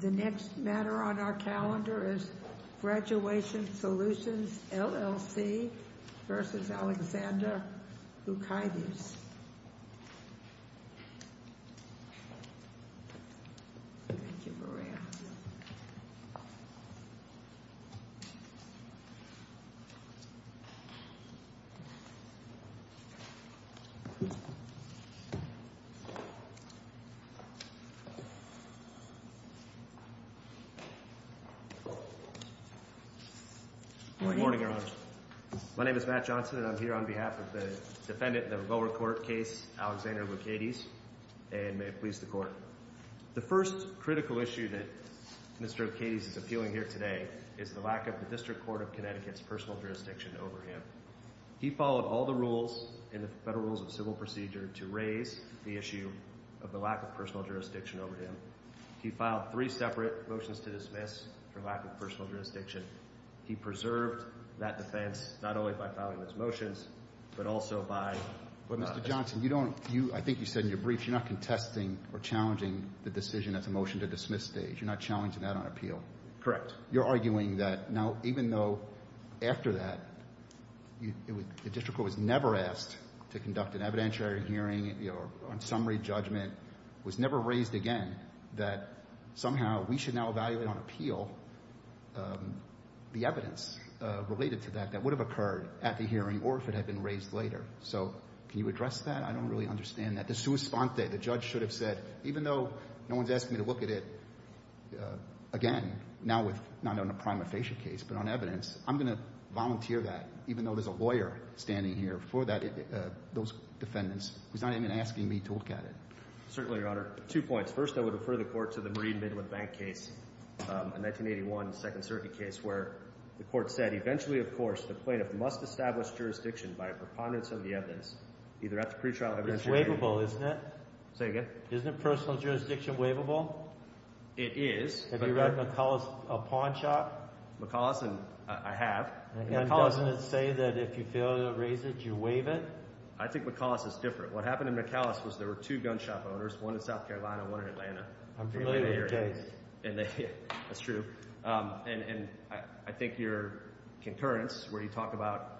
The next matter on our calendar is Graduation Solutions, LLC v. Aleksandr Lukaitis Good morning, Your Honor. My name is Matt Johnson and I'm here on behalf of the defendant in the lower court case, Aleksandr Lukaitis, and may it please the Court. The first critical issue that Mr. Lukaitis is appealing here today is the lack of the District Court of Connecticut's personal jurisdiction over him. He followed all the rules in the Federal Rules of Civil Procedure to raise the issue of the lack of personal jurisdiction over him. He filed three separate motions to dismiss for lack of personal jurisdiction. He preserved that defense not only by filing those motions, but also by... Mr. Johnson, I think you said in your briefs you're not contesting or challenging the decision at the motion to dismiss stage. You're not challenging that on appeal. Correct. But you're arguing that now, even though after that the district court was never asked to conduct an evidentiary hearing on summary judgment, was never raised again, that somehow we should now evaluate on appeal the evidence related to that that would have occurred at the hearing or if it had been raised later. So can you address that? I don't really understand that. The judge should have said, even though no one's asking me to look at it, again, not on a prima facie case, but on evidence, I'm going to volunteer that even though there's a lawyer standing here for those defendants who's not even asking me to look at it. Certainly, Your Honor. Two points. First, I would refer the Court to the Marine Midland Bank case, a 1981 Second Circuit case, where the Court said, eventually, of course, the plaintiff must establish jurisdiction by a preponderance of the evidence either at the pretrial evidence hearing... It's not waivable, isn't it? Say again? Isn't personal jurisdiction waivable? It is. Have you read McCullough's Pawn Shop? McCullough's? I have. And doesn't it say that if you fail to raise it, you waive it? I think McCullough's is different. What happened in McCullough's was there were two gun shop owners, one in South Carolina, one in Atlanta. I'm familiar with the case. That's true. And I think your concurrence where you talk about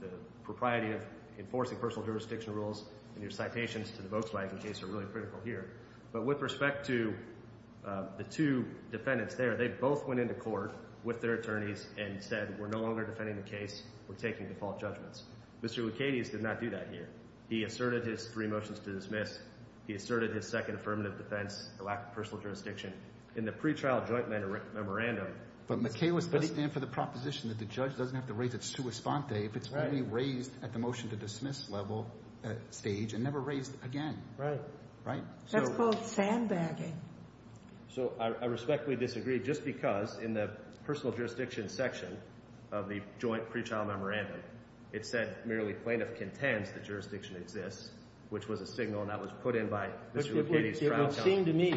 the propriety of enforcing personal jurisdiction rules and your citations to the Volkswagen case are really critical here. But with respect to the two defendants there, they both went into court with their attorneys and said, we're no longer defending the case. We're taking default judgments. Mr. Licatius did not do that here. He asserted his three motions to dismiss. He asserted his second affirmative defense, the lack of personal jurisdiction. In the pretrial joint memorandum— But McCullough's does stand for the proposition that the judge doesn't have to raise its sua sponte if it's already raised at the motion to dismiss level stage and never raised again. Right. That's called sandbagging. So I respectfully disagree just because in the personal jurisdiction section of the joint pretrial memorandum it said merely plaintiff contends that jurisdiction exists, which was a signal, and that was put in by Mr. Licatius' trial counsel. Wouldn't that have seemed to have been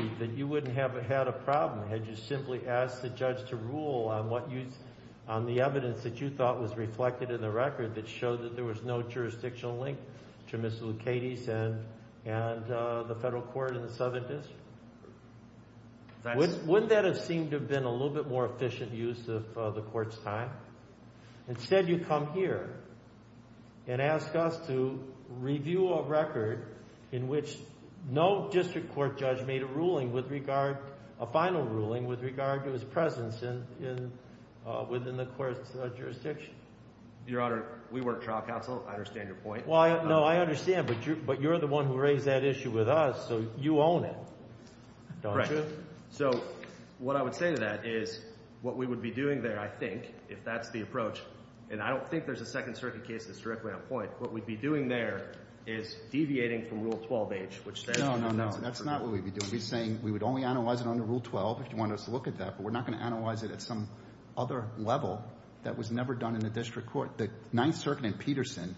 a little bit more efficient use of the court's time? Instead you come here and ask us to review a record in which no district court judge made a ruling with regard—a final ruling with regard to his presence within the court's jurisdiction. Your Honor, we work trial counsel. I understand your point. No, I understand, but you're the one who raised that issue with us, so you own it, don't you? So what I would say to that is what we would be doing there, I think, if that's the approach—and I don't think there's a Second Circuit case that's directly on point. What we'd be doing there is deviating from Rule 12H, which— No, no, no. That's not what we'd be doing. We'd be saying we would only analyze it under Rule 12 if you wanted us to look at that, but we're not going to analyze it at some other level that was never done in a district court. The Ninth Circuit in Peterson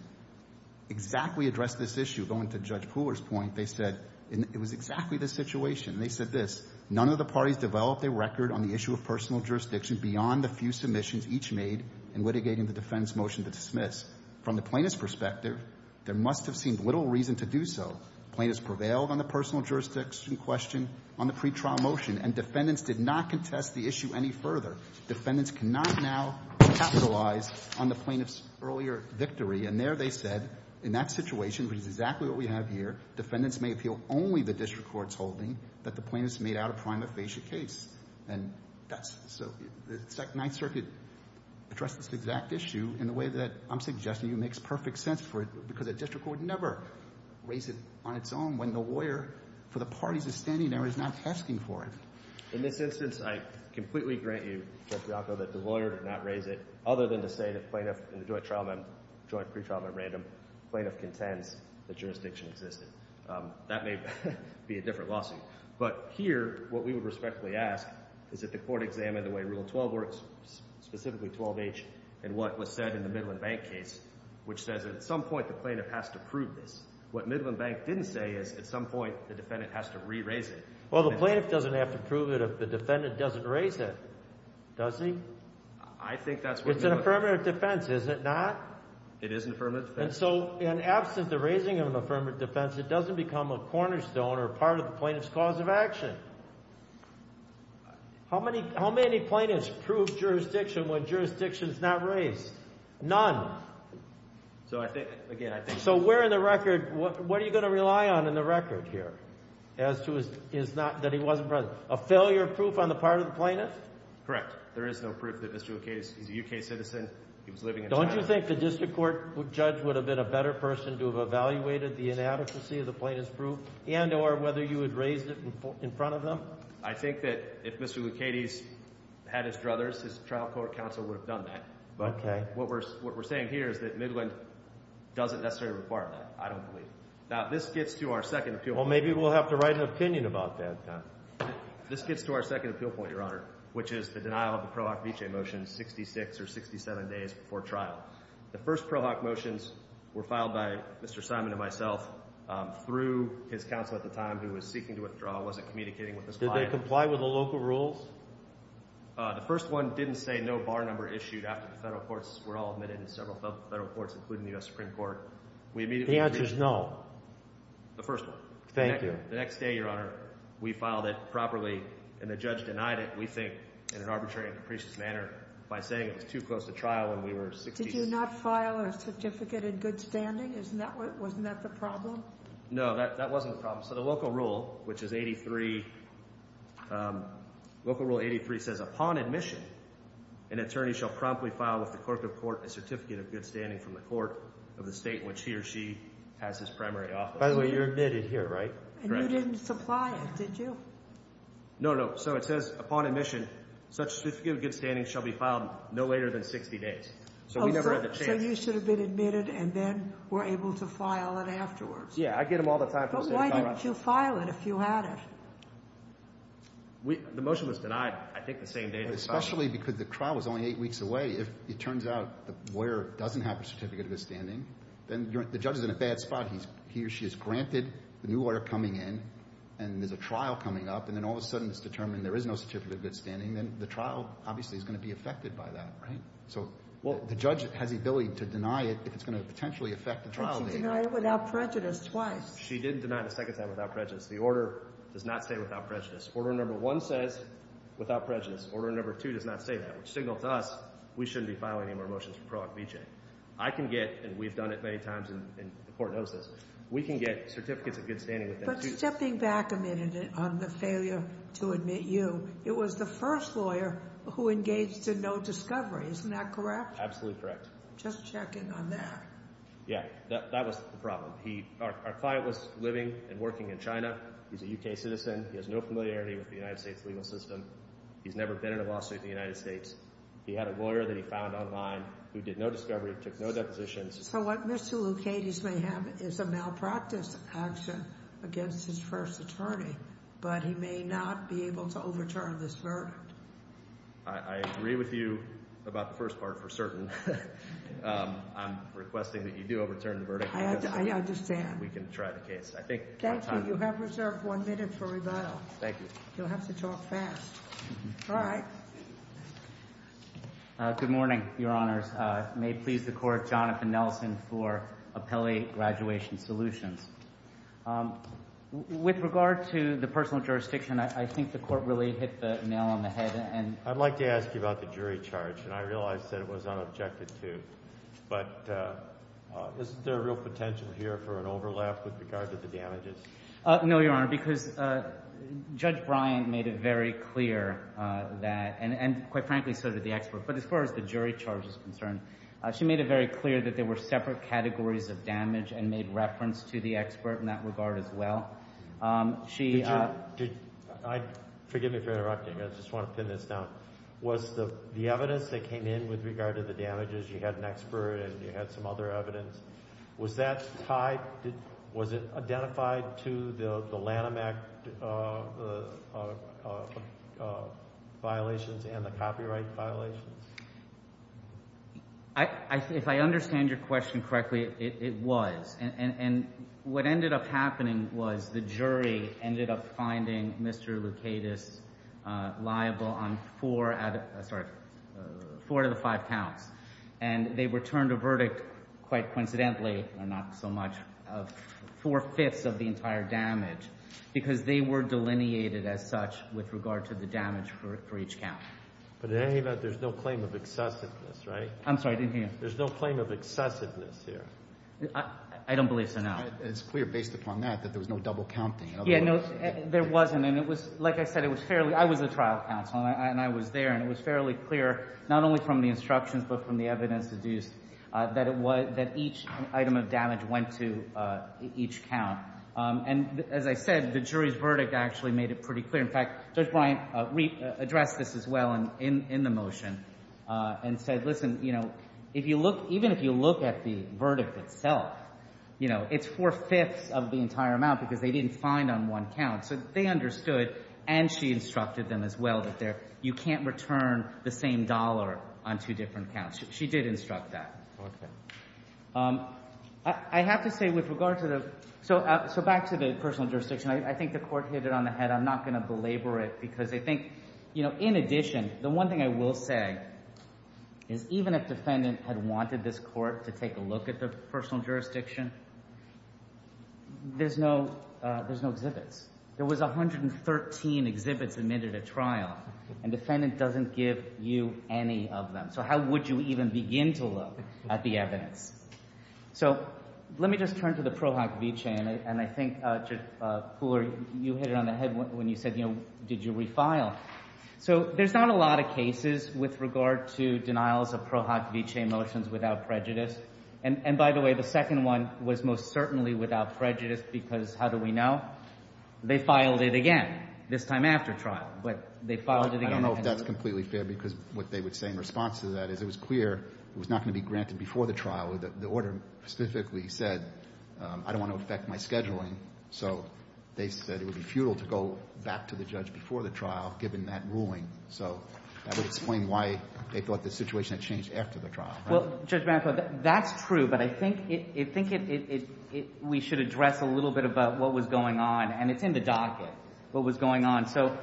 exactly addressed this issue. Going to Judge Pooler's point, they said it was exactly this situation. They said this, Plaintiffs prevailed on the personal jurisdiction question on the pretrial motion, and defendants did not contest the issue any further. Defendants cannot now capitalize on the plaintiff's earlier victory, and there they said, in that situation, which is exactly what we have here, defendants may appeal only the district court's holding that the plaintiffs made out a prima facie case. And that's—so the Ninth Circuit addressed this exact issue in a way that I'm suggesting to you makes perfect sense for it, because a district court would never raise it on its own when the lawyer for the parties standing there is not asking for it. In this instance, I completely grant you, Judge Bianco, that the lawyer did not raise it, other than to say that the joint pretrial memorandum plaintiff contends the jurisdiction existed. That may be a different lawsuit. But here, what we would respectfully ask is that the court examine the way Rule 12 works, specifically 12H, and what was said in the Midland Bank case, which says that at some point the plaintiff has to prove this. What Midland Bank didn't say is at some point the defendant has to re-raise it. Well, the plaintiff doesn't have to prove it if the defendant doesn't raise it, does he? I think that's what— It's an affirmative defense, is it not? It is an affirmative defense. And so in absence of the raising of an affirmative defense, it doesn't become a cornerstone or part of the plaintiff's cause of action. How many plaintiffs prove jurisdiction when jurisdiction is not raised? None. So I think, again, I think— So where in the record—what are you going to rely on in the record here as to his—that he wasn't present? A failure proof on the part of the plaintiff? Correct. There is no proof that Mr. O'Keefe is a U.K. citizen. He was living in China. Don't you think the district court judge would have been a better person to have evaluated the inadequacy of the plaintiff's proof and or whether you had raised it in front of them? I think that if Mr. Lucchetti had his druthers, his trial court counsel would have done that. Okay. But what we're saying here is that Midland doesn't necessarily require that. I don't believe it. Now, this gets to our second appeal— Well, maybe we'll have to write an opinion about that. This gets to our second appeal point, Your Honor, which is the denial of the Pro Hoc Vice motion 66 or 67 days before trial. The first Pro Hoc motions were filed by Mr. Simon and myself through his counsel at the time who was seeking to withdraw, wasn't communicating with his client. Did they comply with the local rules? The first one didn't say no bar number issued after the federal courts were all admitted in several federal courts, including the U.S. Supreme Court. The answer is no. The first one. Thank you. The next day, Your Honor, we filed it properly, and the judge denied it, we think, in an arbitrary and capricious manner by saying it was too close to trial when we were— Did you not file a certificate in good standing? Wasn't that the problem? No, that wasn't the problem. So the local rule, which is 83—local rule 83 says upon admission, an attorney shall promptly file with the clerk of court a certificate of good standing from the court of the state in which he or she has his primary office. By the way, you're admitted here, right? And you didn't supply it, did you? No, no. So it says upon admission, such certificate of good standing shall be filed no later than 60 days. So we never had the chance— So you should have been admitted and then were able to file it afterwards. Yeah, I get them all the time from the state of Colorado. But why didn't you file it if you had it? The motion was denied, I think, the same day it was filed. Especially because the trial was only eight weeks away. If it turns out the lawyer doesn't have a certificate of good standing, then the judge is in a bad spot. He or she is granted the new order coming in, and there's a trial coming up, and then all of a sudden it's determined there is no certificate of good standing. Then the trial obviously is going to be affected by that, right? So the judge has the ability to deny it if it's going to potentially affect the trial date. But she denied it without prejudice twice. She didn't deny it a second time without prejudice. The order does not stay without prejudice. Order number one says without prejudice. Order number two does not say that, which signals to us we shouldn't be filing any more motions for Pro Act VJ. I can get—and we've done it many times, and the court knows this—we can get certificates of good standing within two— But stepping back a minute on the failure to admit you, it was the first lawyer who engaged in no discovery. Isn't that correct? Absolutely correct. Just checking on that. Yeah, that was the problem. Our client was living and working in China. He's a U.K. citizen. He has no familiarity with the United States legal system. He's never been in a lawsuit in the United States. He had a lawyer that he found online who did no discovery, took no depositions. So what Mr. Lucates may have is a malpractice action against his first attorney, but he may not be able to overturn this verdict. I agree with you about the first part for certain. I'm requesting that you do overturn the verdict. I understand. We can try the case. Thank you. You have reserved one minute for rebuttal. Thank you. You'll have to talk fast. All right. Good morning, Your Honors. May it please the Court, Jonathan Nelson for Appellee Graduation Solutions. With regard to the personal jurisdiction, I think the court really hit the nail on the head. I'd like to ask you about the jury charge, and I realize that it was unobjected to. But isn't there a real potential here for an overlap with regard to the damages? No, Your Honor, because Judge Bryant made it very clear that—and quite frankly so did the expert. But as far as the jury charge is concerned, she made it very clear that there were separate categories of damage and made reference to the expert in that regard as well. Forgive me for interrupting. I just want to pin this down. Was the evidence that came in with regard to the damages, you had an expert and you had some other evidence, was that tied—was it identified to the Lanham Act violations and the copyright violations? If I understand your question correctly, it was. And what ended up happening was the jury ended up finding Mr. Lucatus liable on four out of—sorry, four out of five counts. And they returned a verdict, quite coincidentally, or not so much, of four-fifths of the entire damage because they were delineated as such with regard to the damage for each count. But in any event, there's no claim of excessiveness, right? I'm sorry, I didn't hear you. There's no claim of excessiveness here. I don't believe so, no. It's clear based upon that that there was no double counting. Yeah, no, there wasn't. And it was—like I said, it was fairly—I was a trial counsel and I was there, and it was fairly clear not only from the instructions but from the evidence deduced that each item of damage went to each count. And as I said, the jury's verdict actually made it pretty clear. In fact, Judge Bryant addressed this as well in the motion and said, listen, you know, if you look—even if you look at the verdict itself, you know, it's four-fifths of the entire amount because they didn't find on one count. So they understood, and she instructed them as well, that you can't return the same dollar on two different counts. She did instruct that. Okay. I have to say with regard to the—so back to the personal jurisdiction, I think the Court hit it on the head. I'm not going to belabor it because I think, you know, in addition, the one thing I will say is even if defendant had wanted this court to take a look at the personal jurisdiction, there's no—there's no exhibits. There was 113 exhibits admitted at trial, and defendant doesn't give you any of them. So how would you even begin to look at the evidence? So let me just turn to the Pro Hoc Vice, and I think, Judge Cooler, you hit it on the head when you said, you know, did you refile? So there's not a lot of cases with regard to denials of Pro Hoc Vice motions without prejudice. And, by the way, the second one was most certainly without prejudice because how do we know? They filed it again, this time after trial. But they filed it again— I don't know if that's completely fair because what they would say in response to that is it was clear it was not going to be granted before the trial. So they said it would be futile to go back to the judge before the trial, given that ruling. So that would explain why they thought the situation had changed after the trial, right? Well, Judge Bancroft, that's true, but I think it—we should address a little bit about what was going on. And it's in the docket, what was going on. So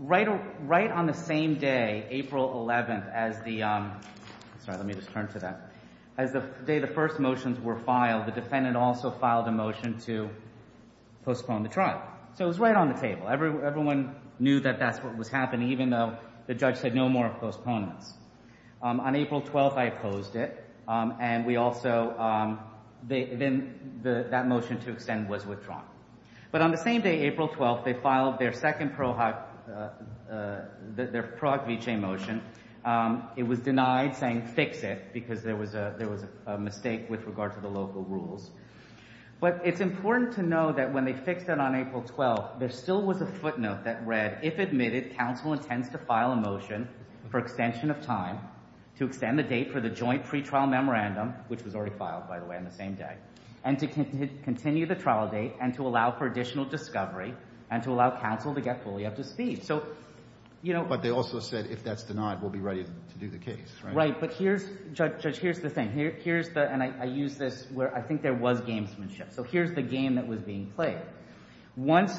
right on the same day, April 11th, as the—sorry, let me just turn to that. As the day the first motions were filed, the defendant also filed a motion to postpone the trial. So it was right on the table. Everyone knew that that's what was happening, even though the judge said no more postponements. On April 12th, I opposed it, and we also—then that motion to extend was withdrawn. But on the same day, April 12th, they filed their second Pro Hoc—their Pro Hoc Vice motion. It was denied, saying fix it, because there was a mistake with regard to the local rules. But it's important to know that when they fixed it on April 12th, there still was a footnote that read, if admitted, counsel intends to file a motion for extension of time to extend the date for the joint pretrial memorandum, which was already filed, by the way, on the same day, and to continue the trial date and to allow for additional discovery and to allow counsel to get fully up to speed. So, you know— But they also said if that's denied, we'll be ready to do the case, right? Right. But here's—Judge, here's the thing. Here's the—and I use this where I think there was gamesmanship. So here's the game that was being played. Once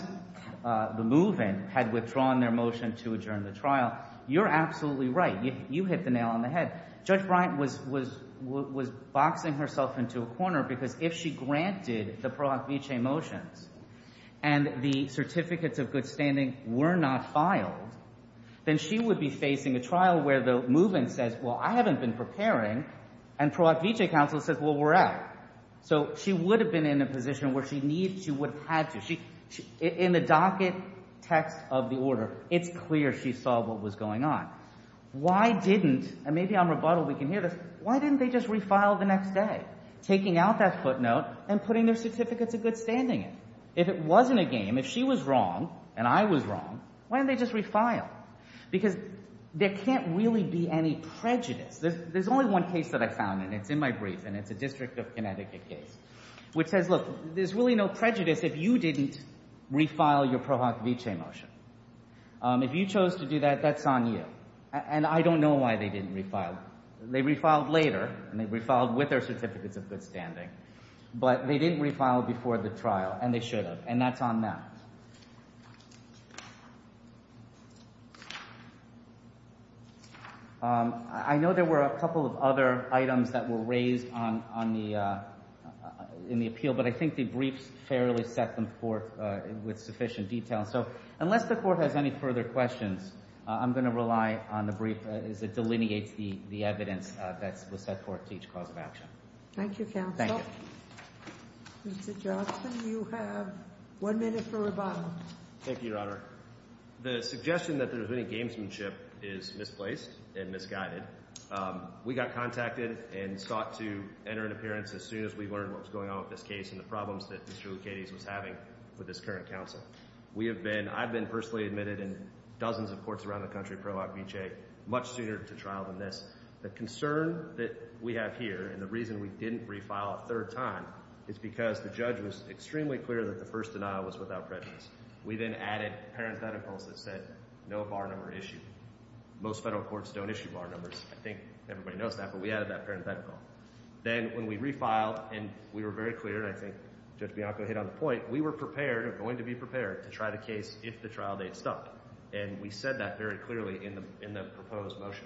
the move-in had withdrawn their motion to adjourn the trial, you're absolutely right. You hit the nail on the head. Judge Bryant was boxing herself into a corner because if she granted the Pro Hoc Vice motions and the certificates of good standing were not filed, then she would be facing a trial where the move-in says, well, I haven't been preparing, and Pro Hoc Vice counsel says, well, we're out. So she would have been in a position where she would have had to. In the docket text of the order, it's clear she saw what was going on. Why didn't—and maybe on rebuttal we can hear this—why didn't they just refile the next day, taking out that footnote and putting their certificates of good standing in? If it wasn't a game, if she was wrong and I was wrong, why didn't they just refile? Because there can't really be any prejudice. There's only one case that I found, and it's in my brief, and it's a District of Connecticut case, which says, look, there's really no prejudice if you didn't refile your Pro Hoc Vice motion. If you chose to do that, that's on you. And I don't know why they didn't refile. They refiled later, and they refiled with their certificates of good standing, but they didn't refile before the trial, and they should have, and that's on that. I know there were a couple of other items that were raised in the appeal, but I think the briefs fairly set them forth with sufficient detail. So unless the Court has any further questions, I'm going to rely on the brief as it delineates the evidence that was set forth to each cause of action. Thank you, counsel. Thank you. Mr. Johnson, you have one minute for rebuttal. Thank you, Your Honor. The suggestion that there was any gamesmanship is misplaced and misguided. We got contacted and sought to enter an appearance as soon as we learned what was going on with this case and the problems that Mr. Lucchetti was having with his current counsel. We have been, I've been personally admitted in dozens of courts around the country, pro obvice, much sooner to trial than this. The concern that we have here and the reason we didn't refile a third time is because the judge was extremely clear that the first denial was without prejudice. We then added parentheticals that said no bar number issued. Most federal courts don't issue bar numbers. I think everybody knows that, but we added that parenthetical. Then when we refiled and we were very clear, and I think Judge Bianco hit on the point, we were prepared, going to be prepared, to try the case if the trial date stopped. And we said that very clearly in the proposed motion.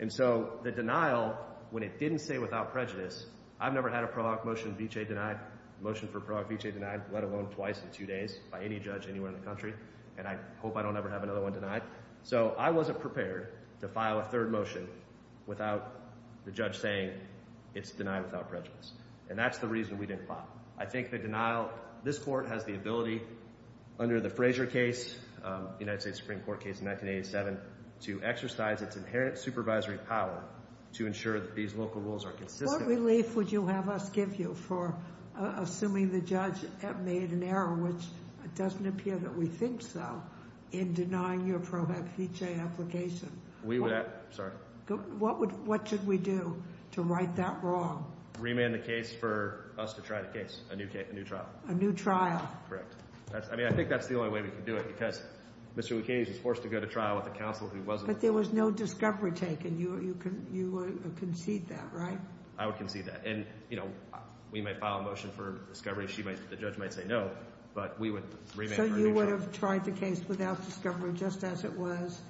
And so the denial, when it didn't say without prejudice, I've never had a pro hoc motion v. J denied, motion for pro hoc v. J denied, let alone twice in two days by any judge anywhere in the country, and I hope I don't ever have another one denied. So I wasn't prepared to file a third motion without the judge saying it's denied without prejudice. And that's the reason we didn't file. I think the denial, this court has the ability under the Frazier case, the United States Supreme Court case in 1987, to exercise its inherent supervisory power to ensure that these local rules are consistent. What relief would you have us give you for assuming the judge made an error, which it doesn't appear that we think so, in denying your pro hoc v. J application? We would have, sorry. What should we do to right that wrong? Remand the case for us to try the case, a new trial. A new trial. Correct. I mean, I think that's the only way we can do it, because Mr. Lucchini was forced to go to trial with a counsel who wasn't. But there was no discovery taken. You would concede that, right? I would concede that. And, you know, we might file a motion for discovery. The judge might say no, but we would remand for a new trial. So you would have tried the case without discovery just as it was,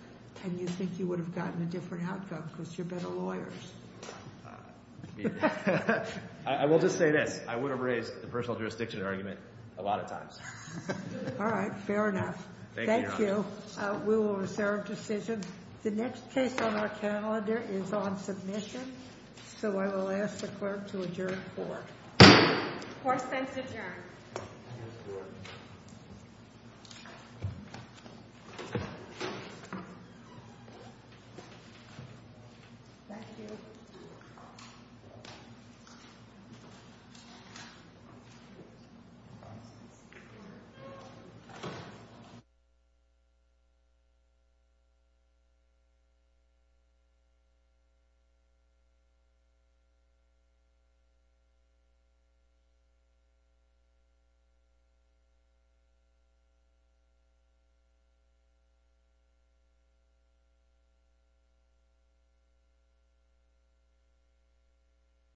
and you think you would have gotten a different outcome because you're better lawyers. I will just say this. I would have raised the personal jurisdiction argument a lot of times. All right. Fair enough. Thank you. We will reserve decisions. The next case on our calendar is on submission, so I will ask the clerk to adjourn the court. The court stands adjourned. Thank you. Thank you.